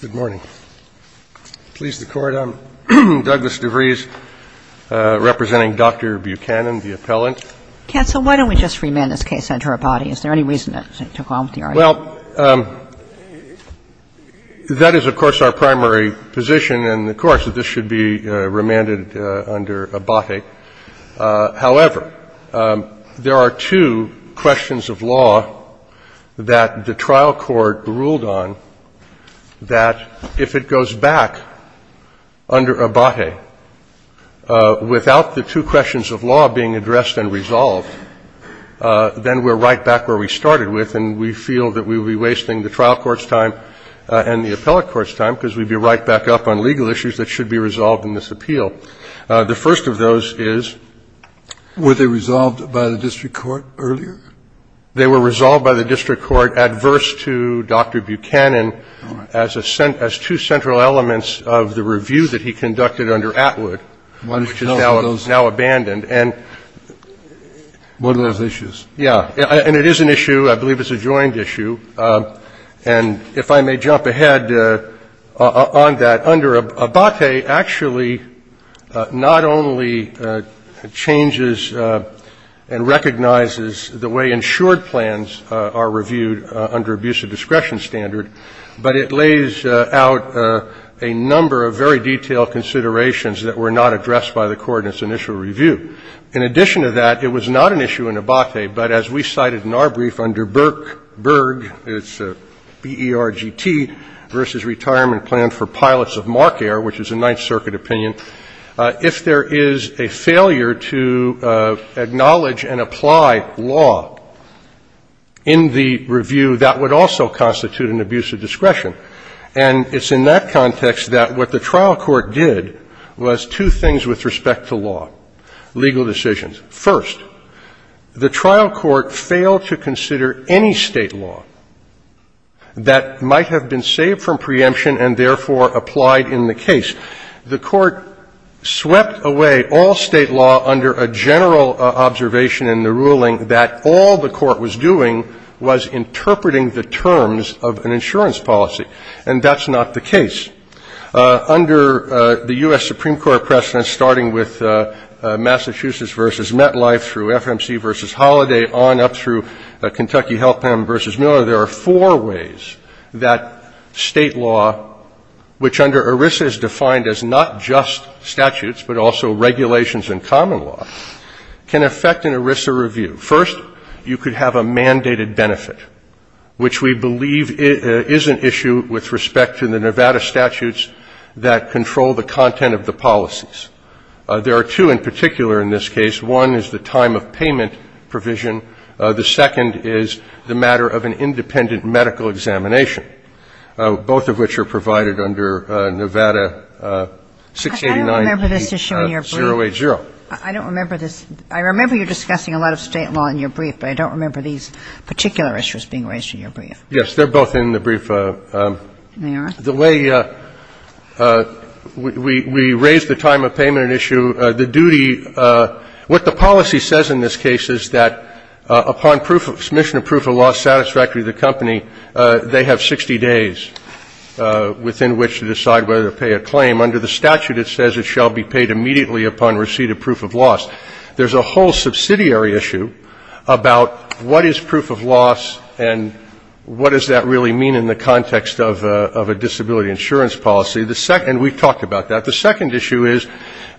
Good morning. Please the Court, I'm Douglas DeVries, representing Dr. Buchanan, the appellant. Kagan, why don't we just remand this case under Abate? Is there any reason that took on with the argument? Well, that is, of course, our primary position in the courts, that this should be remanded under Abate. However, there are two questions of law that the trial court ruled on that if it goes back under Abate without the two questions of law being addressed and resolved, then we're right back where we started with, and we feel that we would be wasting the trial court's time and the appellate court's time because we'd be right back up on legal issues that should be resolved in this appeal. The first of those is — Were they resolved by the district court earlier? They were resolved by the district court adverse to Dr. Buchanan as two central elements of the review that he conducted under Atwood, which is now abandoned. And — What are those issues? Yeah. And it is an issue. I believe it's a joint issue. And if I may jump ahead on that, under Abate actually not only changes and recognizes the way insured plans are reviewed under abuse of discretion standard, but it lays out a number of very detailed considerations that were not addressed by the court in its initial review. In addition to that, it was not an issue in Abate, but as we cited in our brief under BERGT, it's B-E-R-G-T, versus Retirement Plan for Pilots of Marker, which is a Ninth Circuit opinion, if there is a failure to acknowledge and apply law in the review, that would also constitute an abuse of discretion. And it's in that context that what the trial court did was two things with respect to law, legal decisions. First, the trial court failed to consider any State law that might have been saved from preemption and therefore applied in the case. The court swept away all State law under a general observation in the ruling that all the court was doing was interpreting the terms of an insurance policy. And that's not the case. Under the U.S. Supreme Court precedent, starting with Massachusetts v. MetLife through FMC v. Holiday on up through Kentucky Health Plan v. Miller, there are four ways that State law, which under ERISA is defined as not just statutes but also regulations and common law, can affect an ERISA review. First, you could have a mandated benefit, which we believe is an issue with respect to the Nevada statutes that control the content of the policies. There are two in particular in this case. One is the time of payment provision. The second is the matter of an independent medical examination, both of which are provided under Nevada 689-080. I don't remember this issue in your brief. I don't remember this. I remember you discussing a lot of State law in your brief, but I don't remember these particular issues being raised in your brief. Yes, they're both in the brief. They are? The way we raise the time of payment issue, the duty, what the policy says in this case is that upon submission of proof of loss satisfactory to the company, they have 60 days within which to decide whether to pay a claim. Under the statute, it says it shall be paid immediately upon receipt of proof of loss. There's a whole subsidiary issue about what is proof of loss and what does that really mean in the context of a disability insurance policy. And we've talked about that. The second issue is,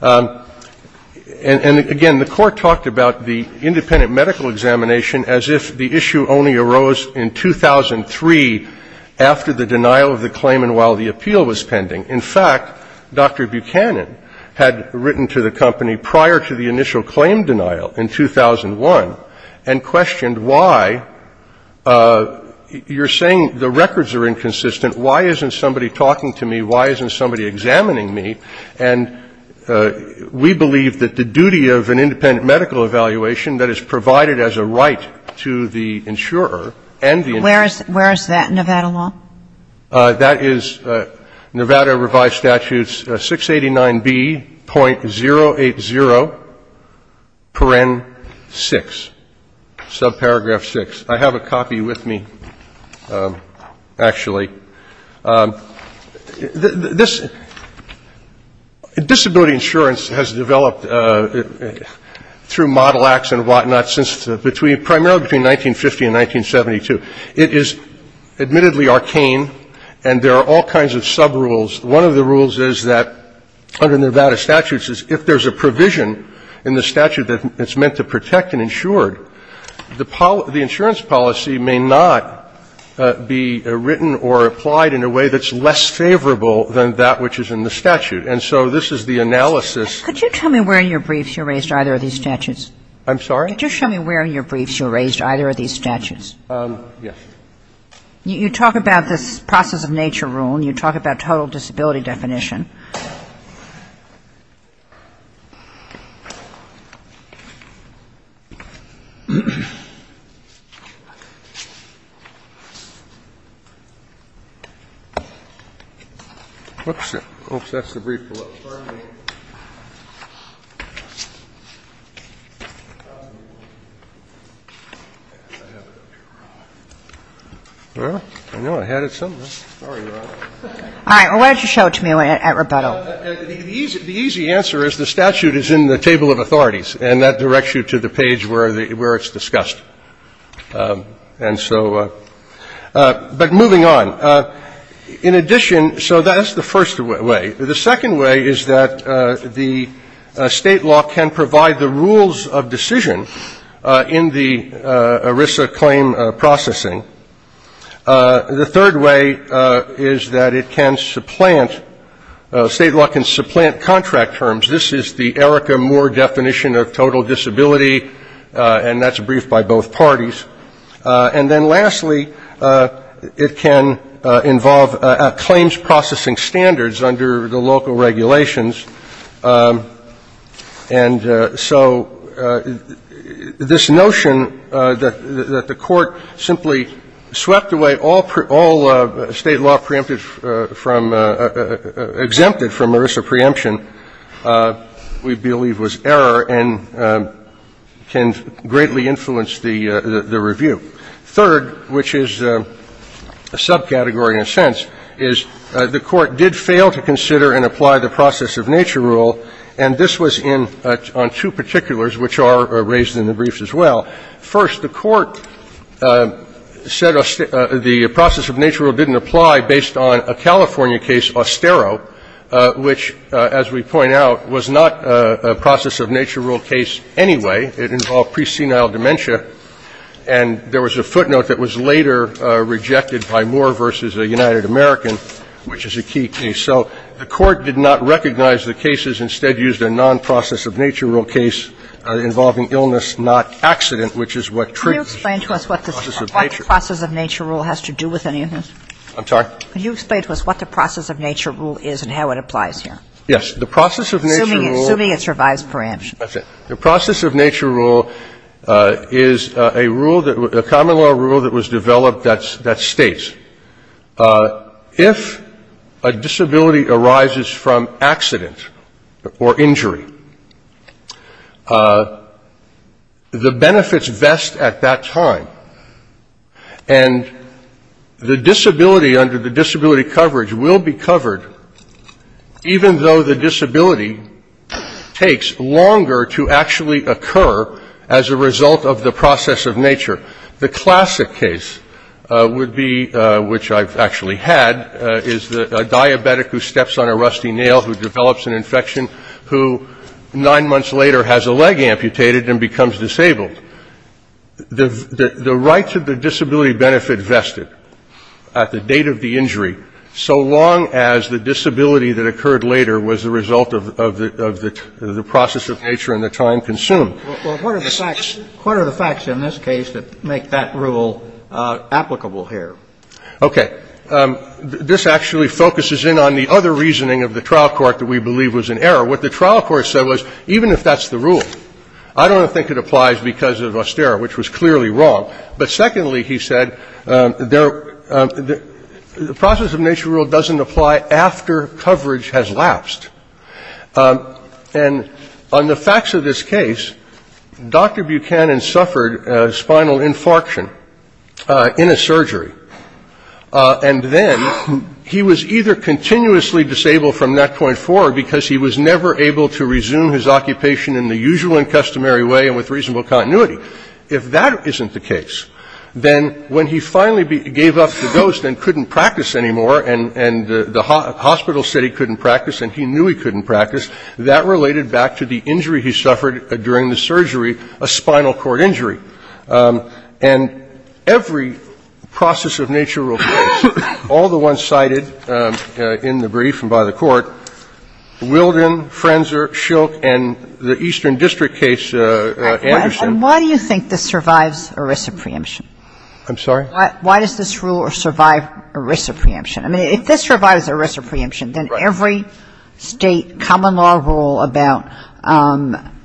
and again, the Court talked about the independent medical examination as if the issue only arose in 2003 after the denial of the claim and while the appeal was pending. In fact, Dr. Buchanan had written to the company prior to the initial claim denial in 2001 and questioned why. You're saying the records are inconsistent. Why isn't somebody talking to me? Why isn't somebody examining me? And we believe that the duty of an independent medical evaluation that is provided as a right to the insurer and the insurer. Where is that, Nevada law? That is Nevada Revised Statutes 689B.080.6, subparagraph 6. I have a copy with me, actually. This disability insurance has developed through model acts and whatnot since between, primarily between 1950 and 1972. It is admittedly archaic. And there are all kinds of subrules. One of the rules is that under Nevada statutes is if there's a provision in the statute that it's meant to protect an insured, the insurance policy may not be written or applied in a way that's less favorable than that which is in the statute. And so this is the analysis. Could you tell me where in your briefs you raised either of these statutes? I'm sorry? Could you show me where in your briefs you raised either of these statutes? Yes. You talk about this process-of-nature rule, and you talk about total disability definition. Oops. I hope that's the brief below. All right. Well, why don't you show it to me at rebuttal. The easy answer is the statute is in the table of authorities, and that directs you to the page where it's discussed. And so but moving on. In addition, so that's the first way. The second way is that the State law can provide the rules of decision in the ERISA claim processing. The third way is that it can supplant, State law can supplant contract terms. This is the ERICA-Moore definition of total disability, and that's a brief by both parties. And then lastly, it can involve claims processing standards under the local regulations. And so this notion that the Court simply swept away all State law preempted from, exempted from ERISA preemption, we believe was error and can greatly influence the review. Third, which is a subcategory in a sense, is the Court did fail to consider and apply the process of nature rule, and this was in on two particulars which are raised in the briefs as well. First, the Court said the process of nature rule didn't apply based on a California case, Ostero, which, as we point out, was not a process of nature rule case anyway. It involved presenile dementia, and there was a footnote that was later rejected by Moore v. United American, which is a key case. So the Court did not recognize the cases, instead used a non-process-of-nature rule case involving illness, not accident, which is what treats process of nature. Kagan. Can you explain to us what the process of nature rule has to do with any of this? I'm sorry? Can you explain to us what the process of nature rule is and how it applies here? Yes. The process of nature rule. Assuming it survives preemption. That's it. The process of nature rule is a rule that a common law rule that was developed that states if a disability arises from accident or injury, the benefits vest at that time, and the disability under the disability coverage will be covered even though the disability takes longer to actually occur as a result of the process of nature. The classic case would be, which I've actually had, is a diabetic who steps on a rusty nail, who develops an infection, who nine months later has a leg amputated and becomes disabled. The rights of the disability benefit vested at the date of the injury, so long as the disability that occurred later was the result of the process of nature and the time consumed. Well, what are the facts in this case that make that rule applicable here? Okay. This actually focuses in on the other reasoning of the trial court that we believe was in error. What the trial court said was, even if that's the rule, I don't think it applies because of austere, which was clearly wrong. But secondly, he said, the process of nature rule doesn't apply after coverage has lapsed. And on the facts of this case, Dr. Buchanan suffered a spinal infarction in a surgery, and then he was either continuously disabled from that point forward because he was never able to resume his occupation in the usual and customary way and with reasonable continuity. If that isn't the case, then when he finally gave up the dose and couldn't practice anymore, and the hospital said he couldn't practice and he knew he couldn't practice, that related back to the injury he suffered during the surgery, a spinal cord injury. And every process of nature rule case, all the ones cited in the brief and by the court, Wilden, Frenzer, Shilk, and the Eastern District case, Anderson. And why do you think this survives ERISA preemption? I'm sorry? Why does this rule survive ERISA preemption? I mean, if this survives ERISA preemption, then every State common law rule about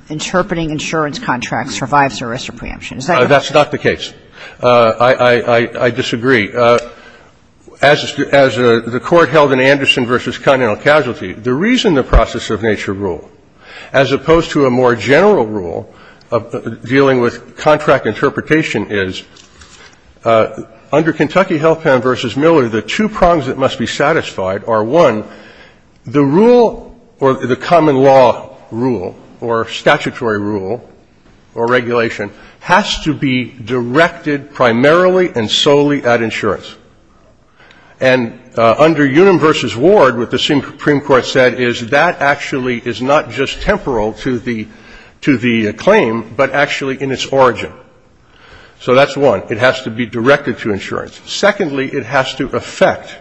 interpreting insurance contracts survives ERISA preemption. Is that correct? That's not the case. I disagree. As the Court held in Anderson v. Continental Casualty, the reason the process of nature rule, as opposed to a more general rule dealing with contract interpretation is, under Kentucky Health Plan v. Miller, the two prongs that must be satisfied are, one, the rule or the common law rule or statutory rule or regulation has to be directed primarily and solely at insurance. And under Unum v. Ward, what the Supreme Court said is that actually is not just temporal to the claim, but actually in its origin. So that's one. It has to be directed to insurance. Secondly, it has to affect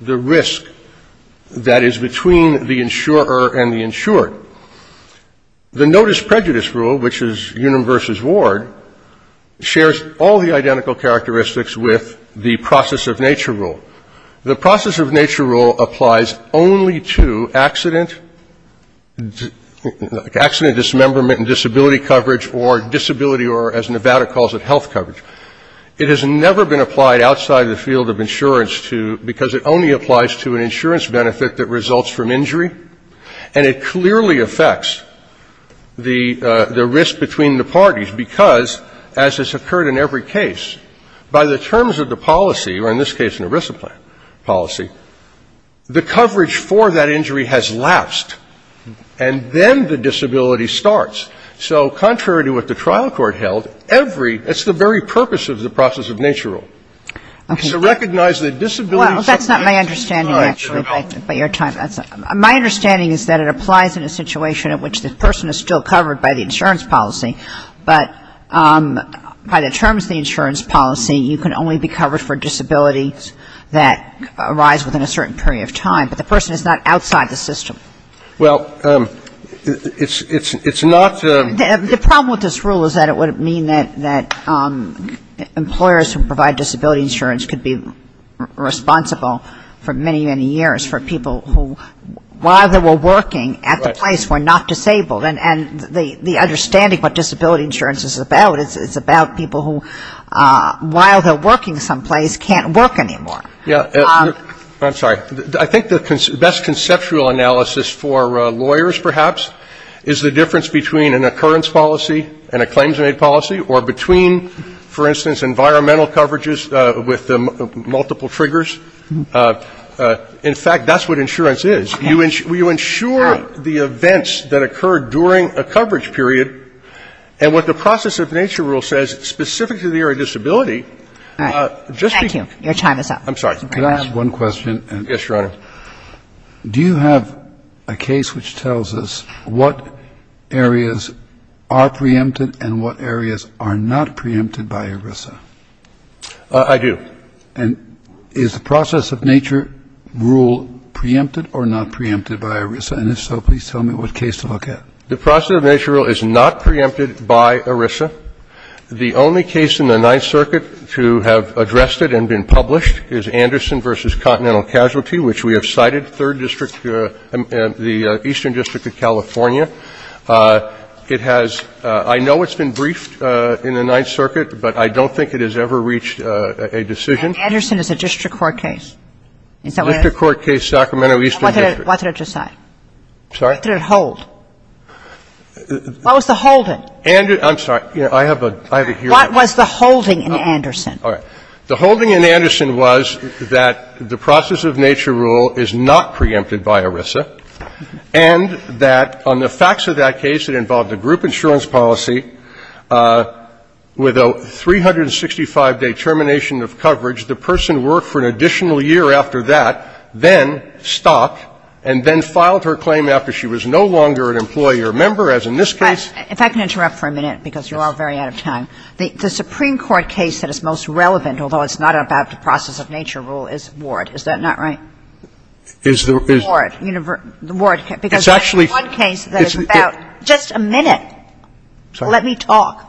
the risk that is between the insurer and the insured. The notice prejudice rule, which is Unum v. Ward, shares all the identical characteristics with the process of nature rule. The process of nature rule applies only to accident, accident dismemberment and disability coverage or disability or, as Nevada calls it, health coverage. It has never been applied outside the field of insurance to ñ because it only applies to an insurance benefit that results from injury. And it clearly affects the risk between the parties because, as has occurred in every case, by the terms of the policy, or in this case an ERISA policy, the So contrary to what the trial court held, every ñ that's the very purpose of the process of nature rule. It's to recognize that disability is a ñ Well, that's not my understanding, actually, by your time. My understanding is that it applies in a situation in which the person is still covered by the insurance policy, but by the terms of the insurance policy, you can only be covered for disabilities that arise within a certain period of time. But the person is not outside the system. Well, it's not ñ The problem with this rule is that it would mean that employers who provide disability insurance could be responsible for many, many years for people who, while they were working at the place, were not disabled. And the understanding of what disability insurance is about, it's about people who, while they're working someplace, can't work anymore. Yeah. I'm sorry. I think the best conceptual analysis for lawyers, perhaps, is the difference between an occurrence policy and a claims-made policy, or between, for instance, environmental coverages with multiple triggers. In fact, that's what insurance is. You ensure the events that occur during a coverage period. And what the process of nature rule says, specific to the area of disability, just Thank you. Your time is up. I'm sorry. Can I ask one question? Yes, Your Honor. Do you have a case which tells us what areas are preempted and what areas are not preempted by ERISA? I do. And is the process of nature rule preempted or not preempted by ERISA? And if so, please tell me what case to look at. The process of nature rule is not preempted by ERISA. The only case in the Ninth Circuit to have addressed it and been published is Anderson v. Continental Casualty, which we have cited, Third District, the Eastern District of California. It has ‑‑ I know it's been briefed in the Ninth Circuit, but I don't think it has ever reached a decision. And Anderson is a district court case. Is that what it is? District court case, Sacramento Eastern District. Why did it decide? I'm sorry? Why did it hold? Why was the hold in? I'm sorry. I have a hearing. What was the holding in Anderson? The holding in Anderson was that the process of nature rule is not preempted by ERISA, and that on the facts of that case, it involved a group insurance policy with a 365-day termination of coverage. The person worked for an additional year after that, then stopped, and then filed the case. If I can interrupt for a minute, because you're all very out of time. The Supreme Court case that is most relevant, although it's not about the process of nature rule, is Ward. Is that not right? Is the ‑‑ Ward. Because that is the one case that is about ‑‑ It's actually ‑‑ Just a minute. Let me talk.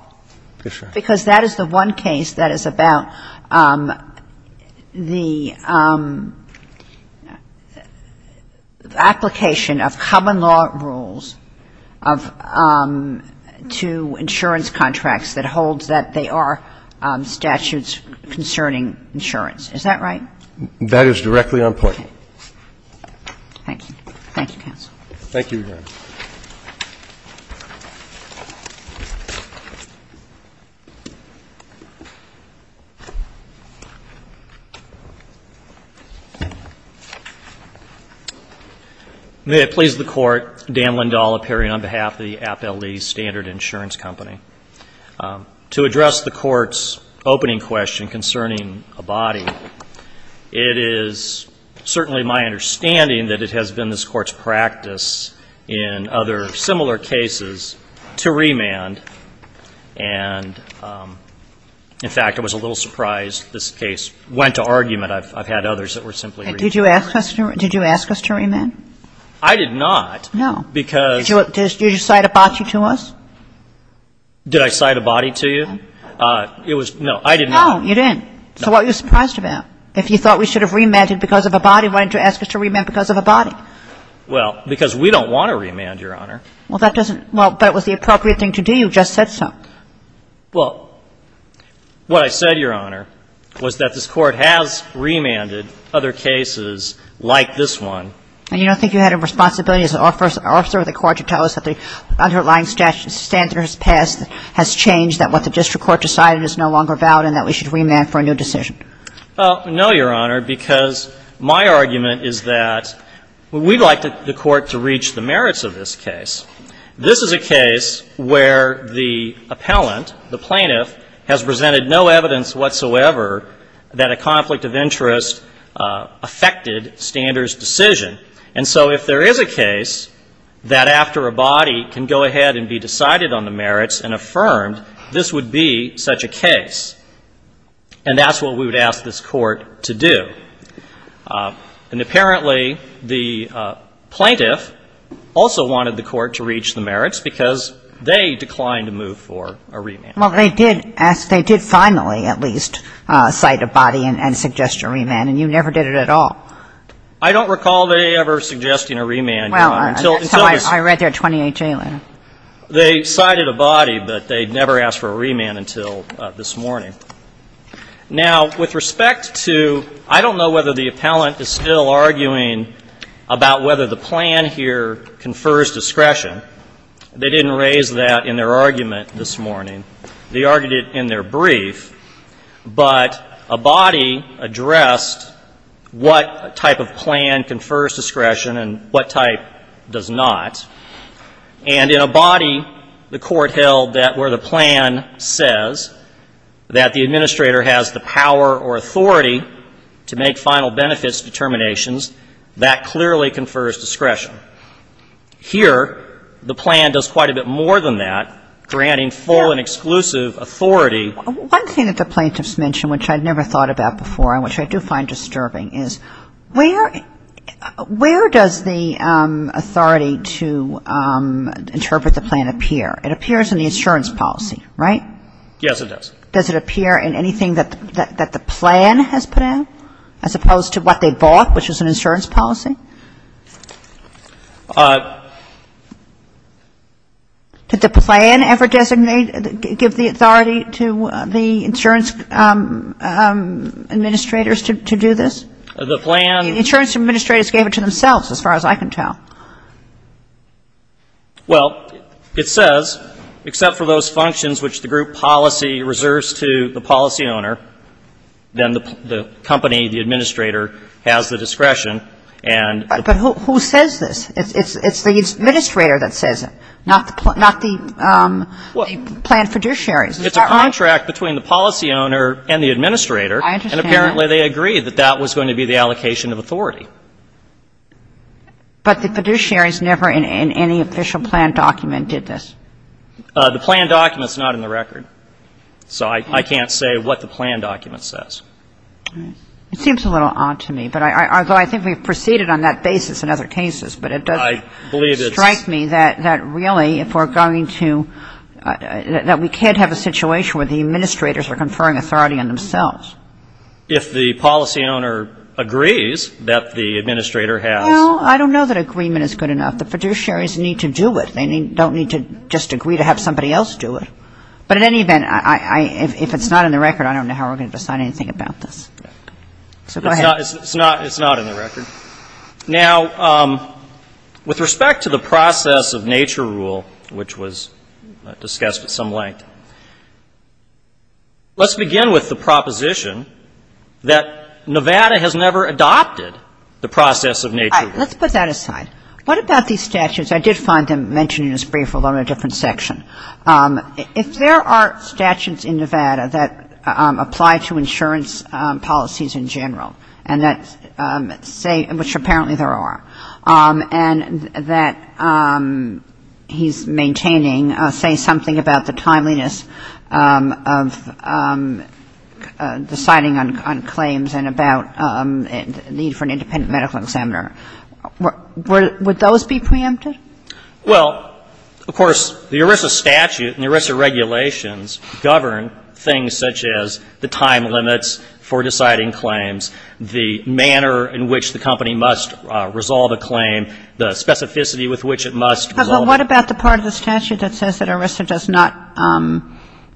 Because that is the one case that is about the application of common law rules of nature to insurance contracts that holds that they are statutes concerning insurance. Is that right? That is directly on point. Okay. Thank you, counsel. Thank you, Your Honor. May it please the Court, Dan Lindahl appearing on behalf of the Appellee Standard Insurance Company. To address the Court's opening question concerning a body, it is certainly my understanding that it has been this Court's practice in other similar cases to remand. And, in fact, I was a little surprised this case went to argument. I've had others that were simply ‑‑ Did you ask us to remand? I did not. No. Because ‑‑ Did you cite a body to us? Did I cite a body to you? No. I did not. No, you didn't. So what were you surprised about? If you thought we should have remanded because of a body, why did you ask us to remand because of a body? Well, because we don't want to remand, Your Honor. Well, that doesn't ‑‑ well, but it was the appropriate thing to do. You just said so. Well, what I said, Your Honor, was that this Court has remanded other cases like this one. And you don't think you had a responsibility as an officer of the Court to tell us that the underlying statute standards passed has changed, that what the district court decided is no longer valid, and that we should remand for a new decision? Well, no, Your Honor, because my argument is that we'd like the Court to reach the merits of this case. This is a case where the appellant, the plaintiff, has presented no evidence whatsoever that a conflict of interest affected standards decision. And so if there is a case that after a body can go ahead and be decided on the merits and affirmed, this would be such a case. And that's what we would ask this Court to do. And apparently, the plaintiff also wanted the Court to reach the merits because they declined to move for a remand. Well, they did ask ‑‑ they did finally at least cite a body and suggest a remand, and you never did it at all. I don't recall they ever suggesting a remand, Your Honor, until this ‑‑ Well, until I read their 28-J letter. They cited a body, but they never asked for a remand until this morning. Now, with respect to ‑‑ I don't know whether the appellant is still arguing about whether the plan here confers discretion. They didn't raise that in their argument this morning. They argued it in their brief. But a body addressed what type of plan confers discretion and what type does not. And in a body, the Court held that where the plan says that the administrator has the power or authority to make final benefits determinations, that clearly confers discretion. Here, the plan does quite a bit more than that, granting full and exclusive authority. One thing that the plaintiffs mention, which I'd never thought about before and which I do find disturbing, is where does the authority to interpret the plan appear? It appears in the insurance policy, right? Yes, it does. Does it appear in anything that the plan has put out as opposed to what they bought, which is an insurance policy? Did the plan ever give the authority to the insurance administrators to do this? The plan ‑‑ The insurance administrators gave it to themselves, as far as I can tell. Well, it says, except for those functions which the group policy reserves to the policy owner, then the company, the administrator, has the discretion. But who says this? It's the administrator that says it, not the plan fiduciaries. It's a contract between the policy owner and the administrator. I understand that. And apparently they agreed that that was going to be the allocation of authority. But the fiduciaries never in any official plan document did this. The plan document is not in the record. So I can't say what the plan document says. It seems a little odd to me. Although I think we've proceeded on that basis in other cases. But it doesn't strike me that really if we're going to ‑‑ that we can't have a situation where the administrators are conferring authority on themselves. If the policy owner agrees that the administrator has ‑‑ Well, I don't know that agreement is good enough. The fiduciaries need to do it. They don't need to just agree to have somebody else do it. But in any event, if it's not in the record, I don't know how we're going to decide anything about this. So go ahead. It's not in the record. Now, with respect to the process of nature rule, which was discussed at some length, let's begin with the proposition that Nevada has never adopted the process of nature rule. All right. Let's put that aside. What about these statutes? I did find them mentioned in his brief, although in a different section. If there are statutes in Nevada that apply to insurance policies in general, and that say ‑‑ which apparently there are, and that he's maintaining, say something about the timeliness of deciding on claims and about need for an independent medical examiner, would those be preempted? Well, of course, the ERISA statute and the ERISA regulations govern things such as the time limits for deciding claims, the manner in which the company must resolve a claim, the specificity with which it must resolve it. But what about the part of the statute that says that ERISA does not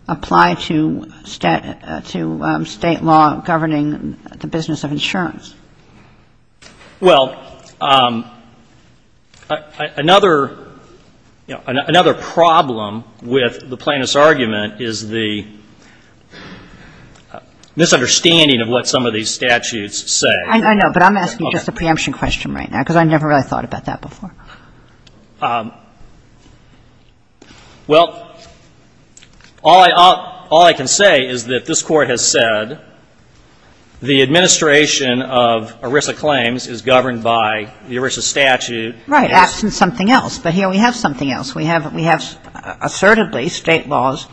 apply to state law governing the business of insurance? Well, another problem with the plaintiff's argument is the misunderstanding of what some of these statutes say. I know, but I'm asking just a preemption question right now, because I never really thought about that before. Well, all I can say is that this Court has said the administration of ERISA claims is governed by the ERISA statute. Right, absent something else. But here we have something else. We have assertedly state laws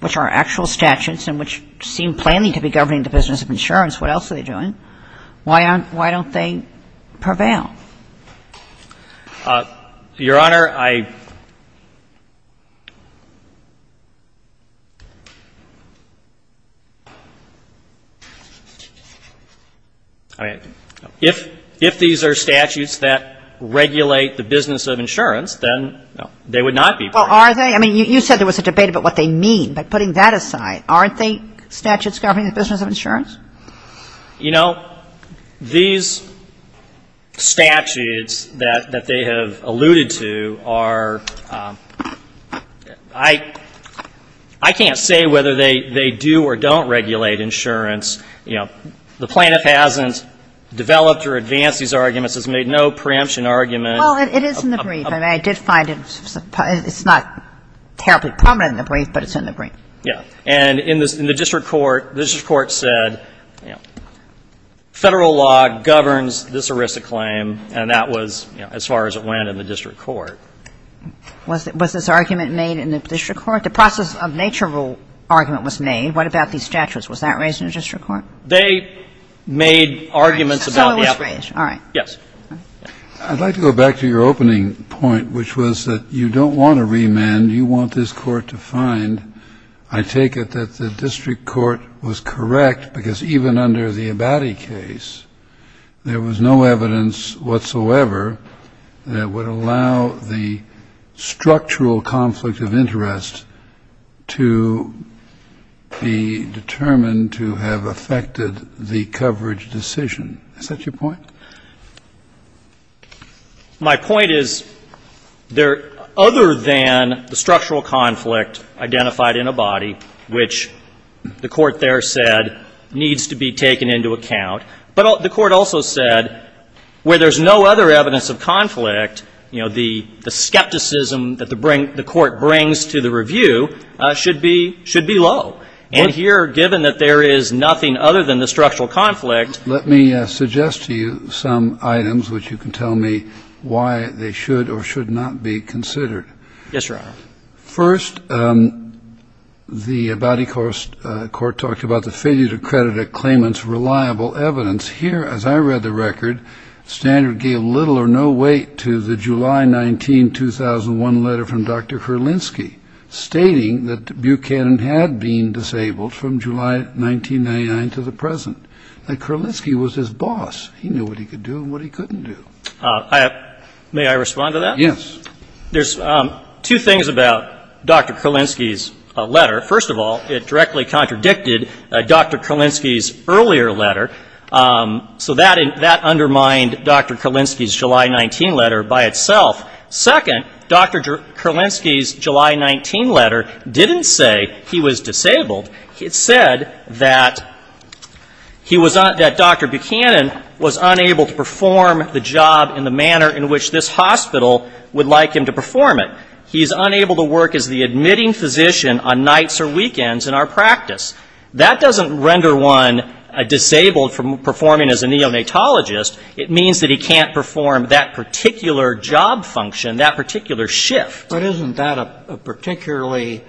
which are actual statutes and which seem plainly to be governing the business of insurance. What else are they doing? Why aren't ‑‑ why don't they prevail? Your Honor, I ‑‑ I mean, if these are statutes that regulate the business of insurance, then they would not be plain. Well, are they? I mean, you said there was a debate about what they mean, but putting that aside, aren't they statutes governing the business of insurance? You know, these statutes that they have alluded to are ‑‑ I can't say whether they do or don't regulate insurance. You know, the plaintiff hasn't developed or advanced these arguments, has made no preemption argument. Well, it is in the brief. I mean, I did find it's not terribly prominent in the brief, but it's in the brief. Yeah. And in the district court, the district court said, you know, Federal law governs this ERISA claim, and that was, you know, as far as it went in the district court. Was this argument made in the district court? The process of nature rule argument was made. What about these statutes? Was that raised in the district court? They made arguments about the application. So it was raised. All right. Yes. I'd like to go back to your opening point, which was that you don't want to remand. You want this court to find. I take it that the district court was correct, because even under the Abadie case, there was no evidence whatsoever that would allow the structural conflict of interest to be determined to have affected the coverage decision. Is that your point? My point is there, other than the structural conflict identified in Abadie, which the court there said needs to be taken into account. But the court also said where there's no other evidence of conflict, you know, the skepticism that the court brings to the review should be low. And here, given that there is nothing other than the structural conflict. Let me suggest to you some items which you can tell me why they should or should not be considered. Yes, Your Honor. First, the Abadie court talked about the failure to credit a claimant's reliable evidence. Here, as I read the record, Standard gave little or no weight to the July 19, 2001, letter from Dr. Herlinski, stating that Buchanan had been disabled from July 1999 to the present. And Herlinski was his boss. He knew what he could do and what he couldn't do. May I respond to that? Yes. There's two things about Dr. Herlinski's letter. First of all, it directly contradicted Dr. Herlinski's earlier letter. So that undermined Dr. Herlinski's July 19 letter by itself. Second, Dr. Herlinski's July 19 letter didn't say he was disabled. It said that Dr. Buchanan was unable to perform the job in the manner in which this hospital would like him to perform it. He's unable to work as the admitting physician on nights or weekends in our practice. That doesn't render one disabled from performing as a neonatologist. It means that he can't perform that particular job function, that particular shift. But isn't that a particularly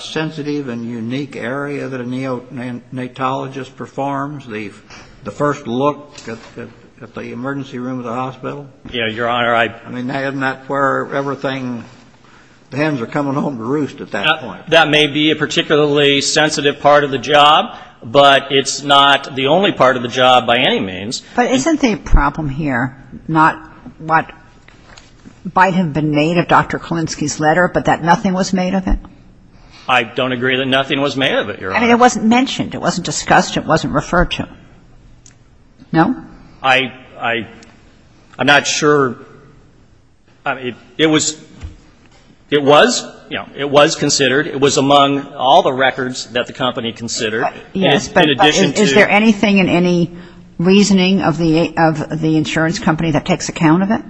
sensitive and unique area that a neonatologist performs, the first look at the emergency room of the hospital? Yes, Your Honor. I mean, isn't that where everything, the hens are coming home to roost at that point? That may be a particularly sensitive part of the job, but it's not the only part of the job by any means. But isn't the problem here not what might have been made of Dr. Kolinsky's letter, but that nothing was made of it? I don't agree that nothing was made of it, Your Honor. I mean, it wasn't mentioned. It wasn't discussed. It wasn't referred to. No? I'm not sure. It was considered. It was among all the records that the company considered. But is there anything in any reasoning of the insurance company that takes account of it?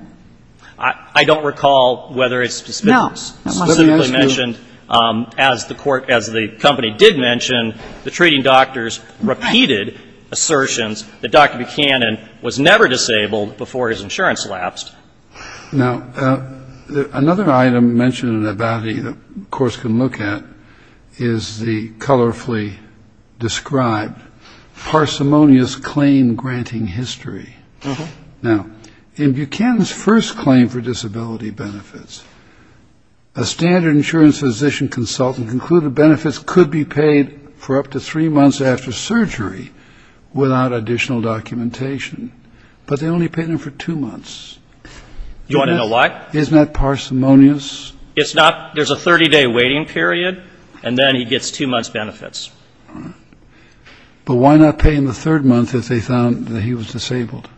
I don't recall whether it's specifically mentioned. As the company did mention, the treating doctors repeated assertions that Dr. Buchanan was never disabled before his insurance lapsed. Now, another item mentioned in the validity that the Court can look at is the colorfully described parsimonious claim granting history. Now, in Buchanan's first claim for disability benefits, a standard insurance physician consultant concluded benefits could be paid for up to three months after surgery without additional documentation. But they only paid him for two months. You want to know why? Isn't that parsimonious? It's not. There's a 30-day waiting period, and then he gets two months' benefits. But why not pay him the third month if they found that he was disabled?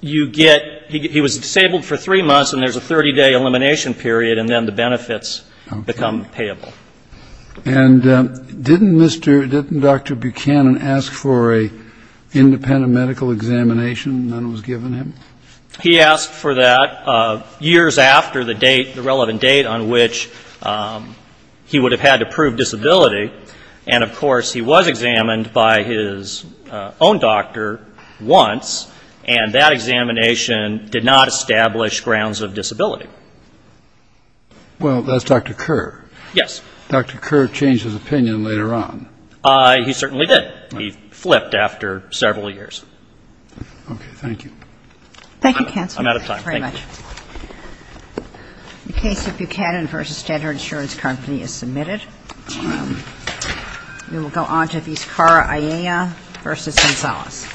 You get he was disabled for three months, and there's a 30-day elimination period, and then the benefits become payable. And didn't Dr. Buchanan ask for an independent medical examination that was given him? He asked for that years after the date, the relevant date on which he would have had to prove disability. And, of course, he was examined by his own doctor once, and that examination did not establish grounds of disability. Well, that's Dr. Kerr. Yes. Dr. Kerr changed his opinion later on. He certainly did. He flipped after several years. Okay. Thank you. Thank you, counsel. I'm out of time. Thank you very much. The case of Buchanan v. Standard Insurance Company is submitted. We will go on to Vizcarra, Ayala v. Gonzalez.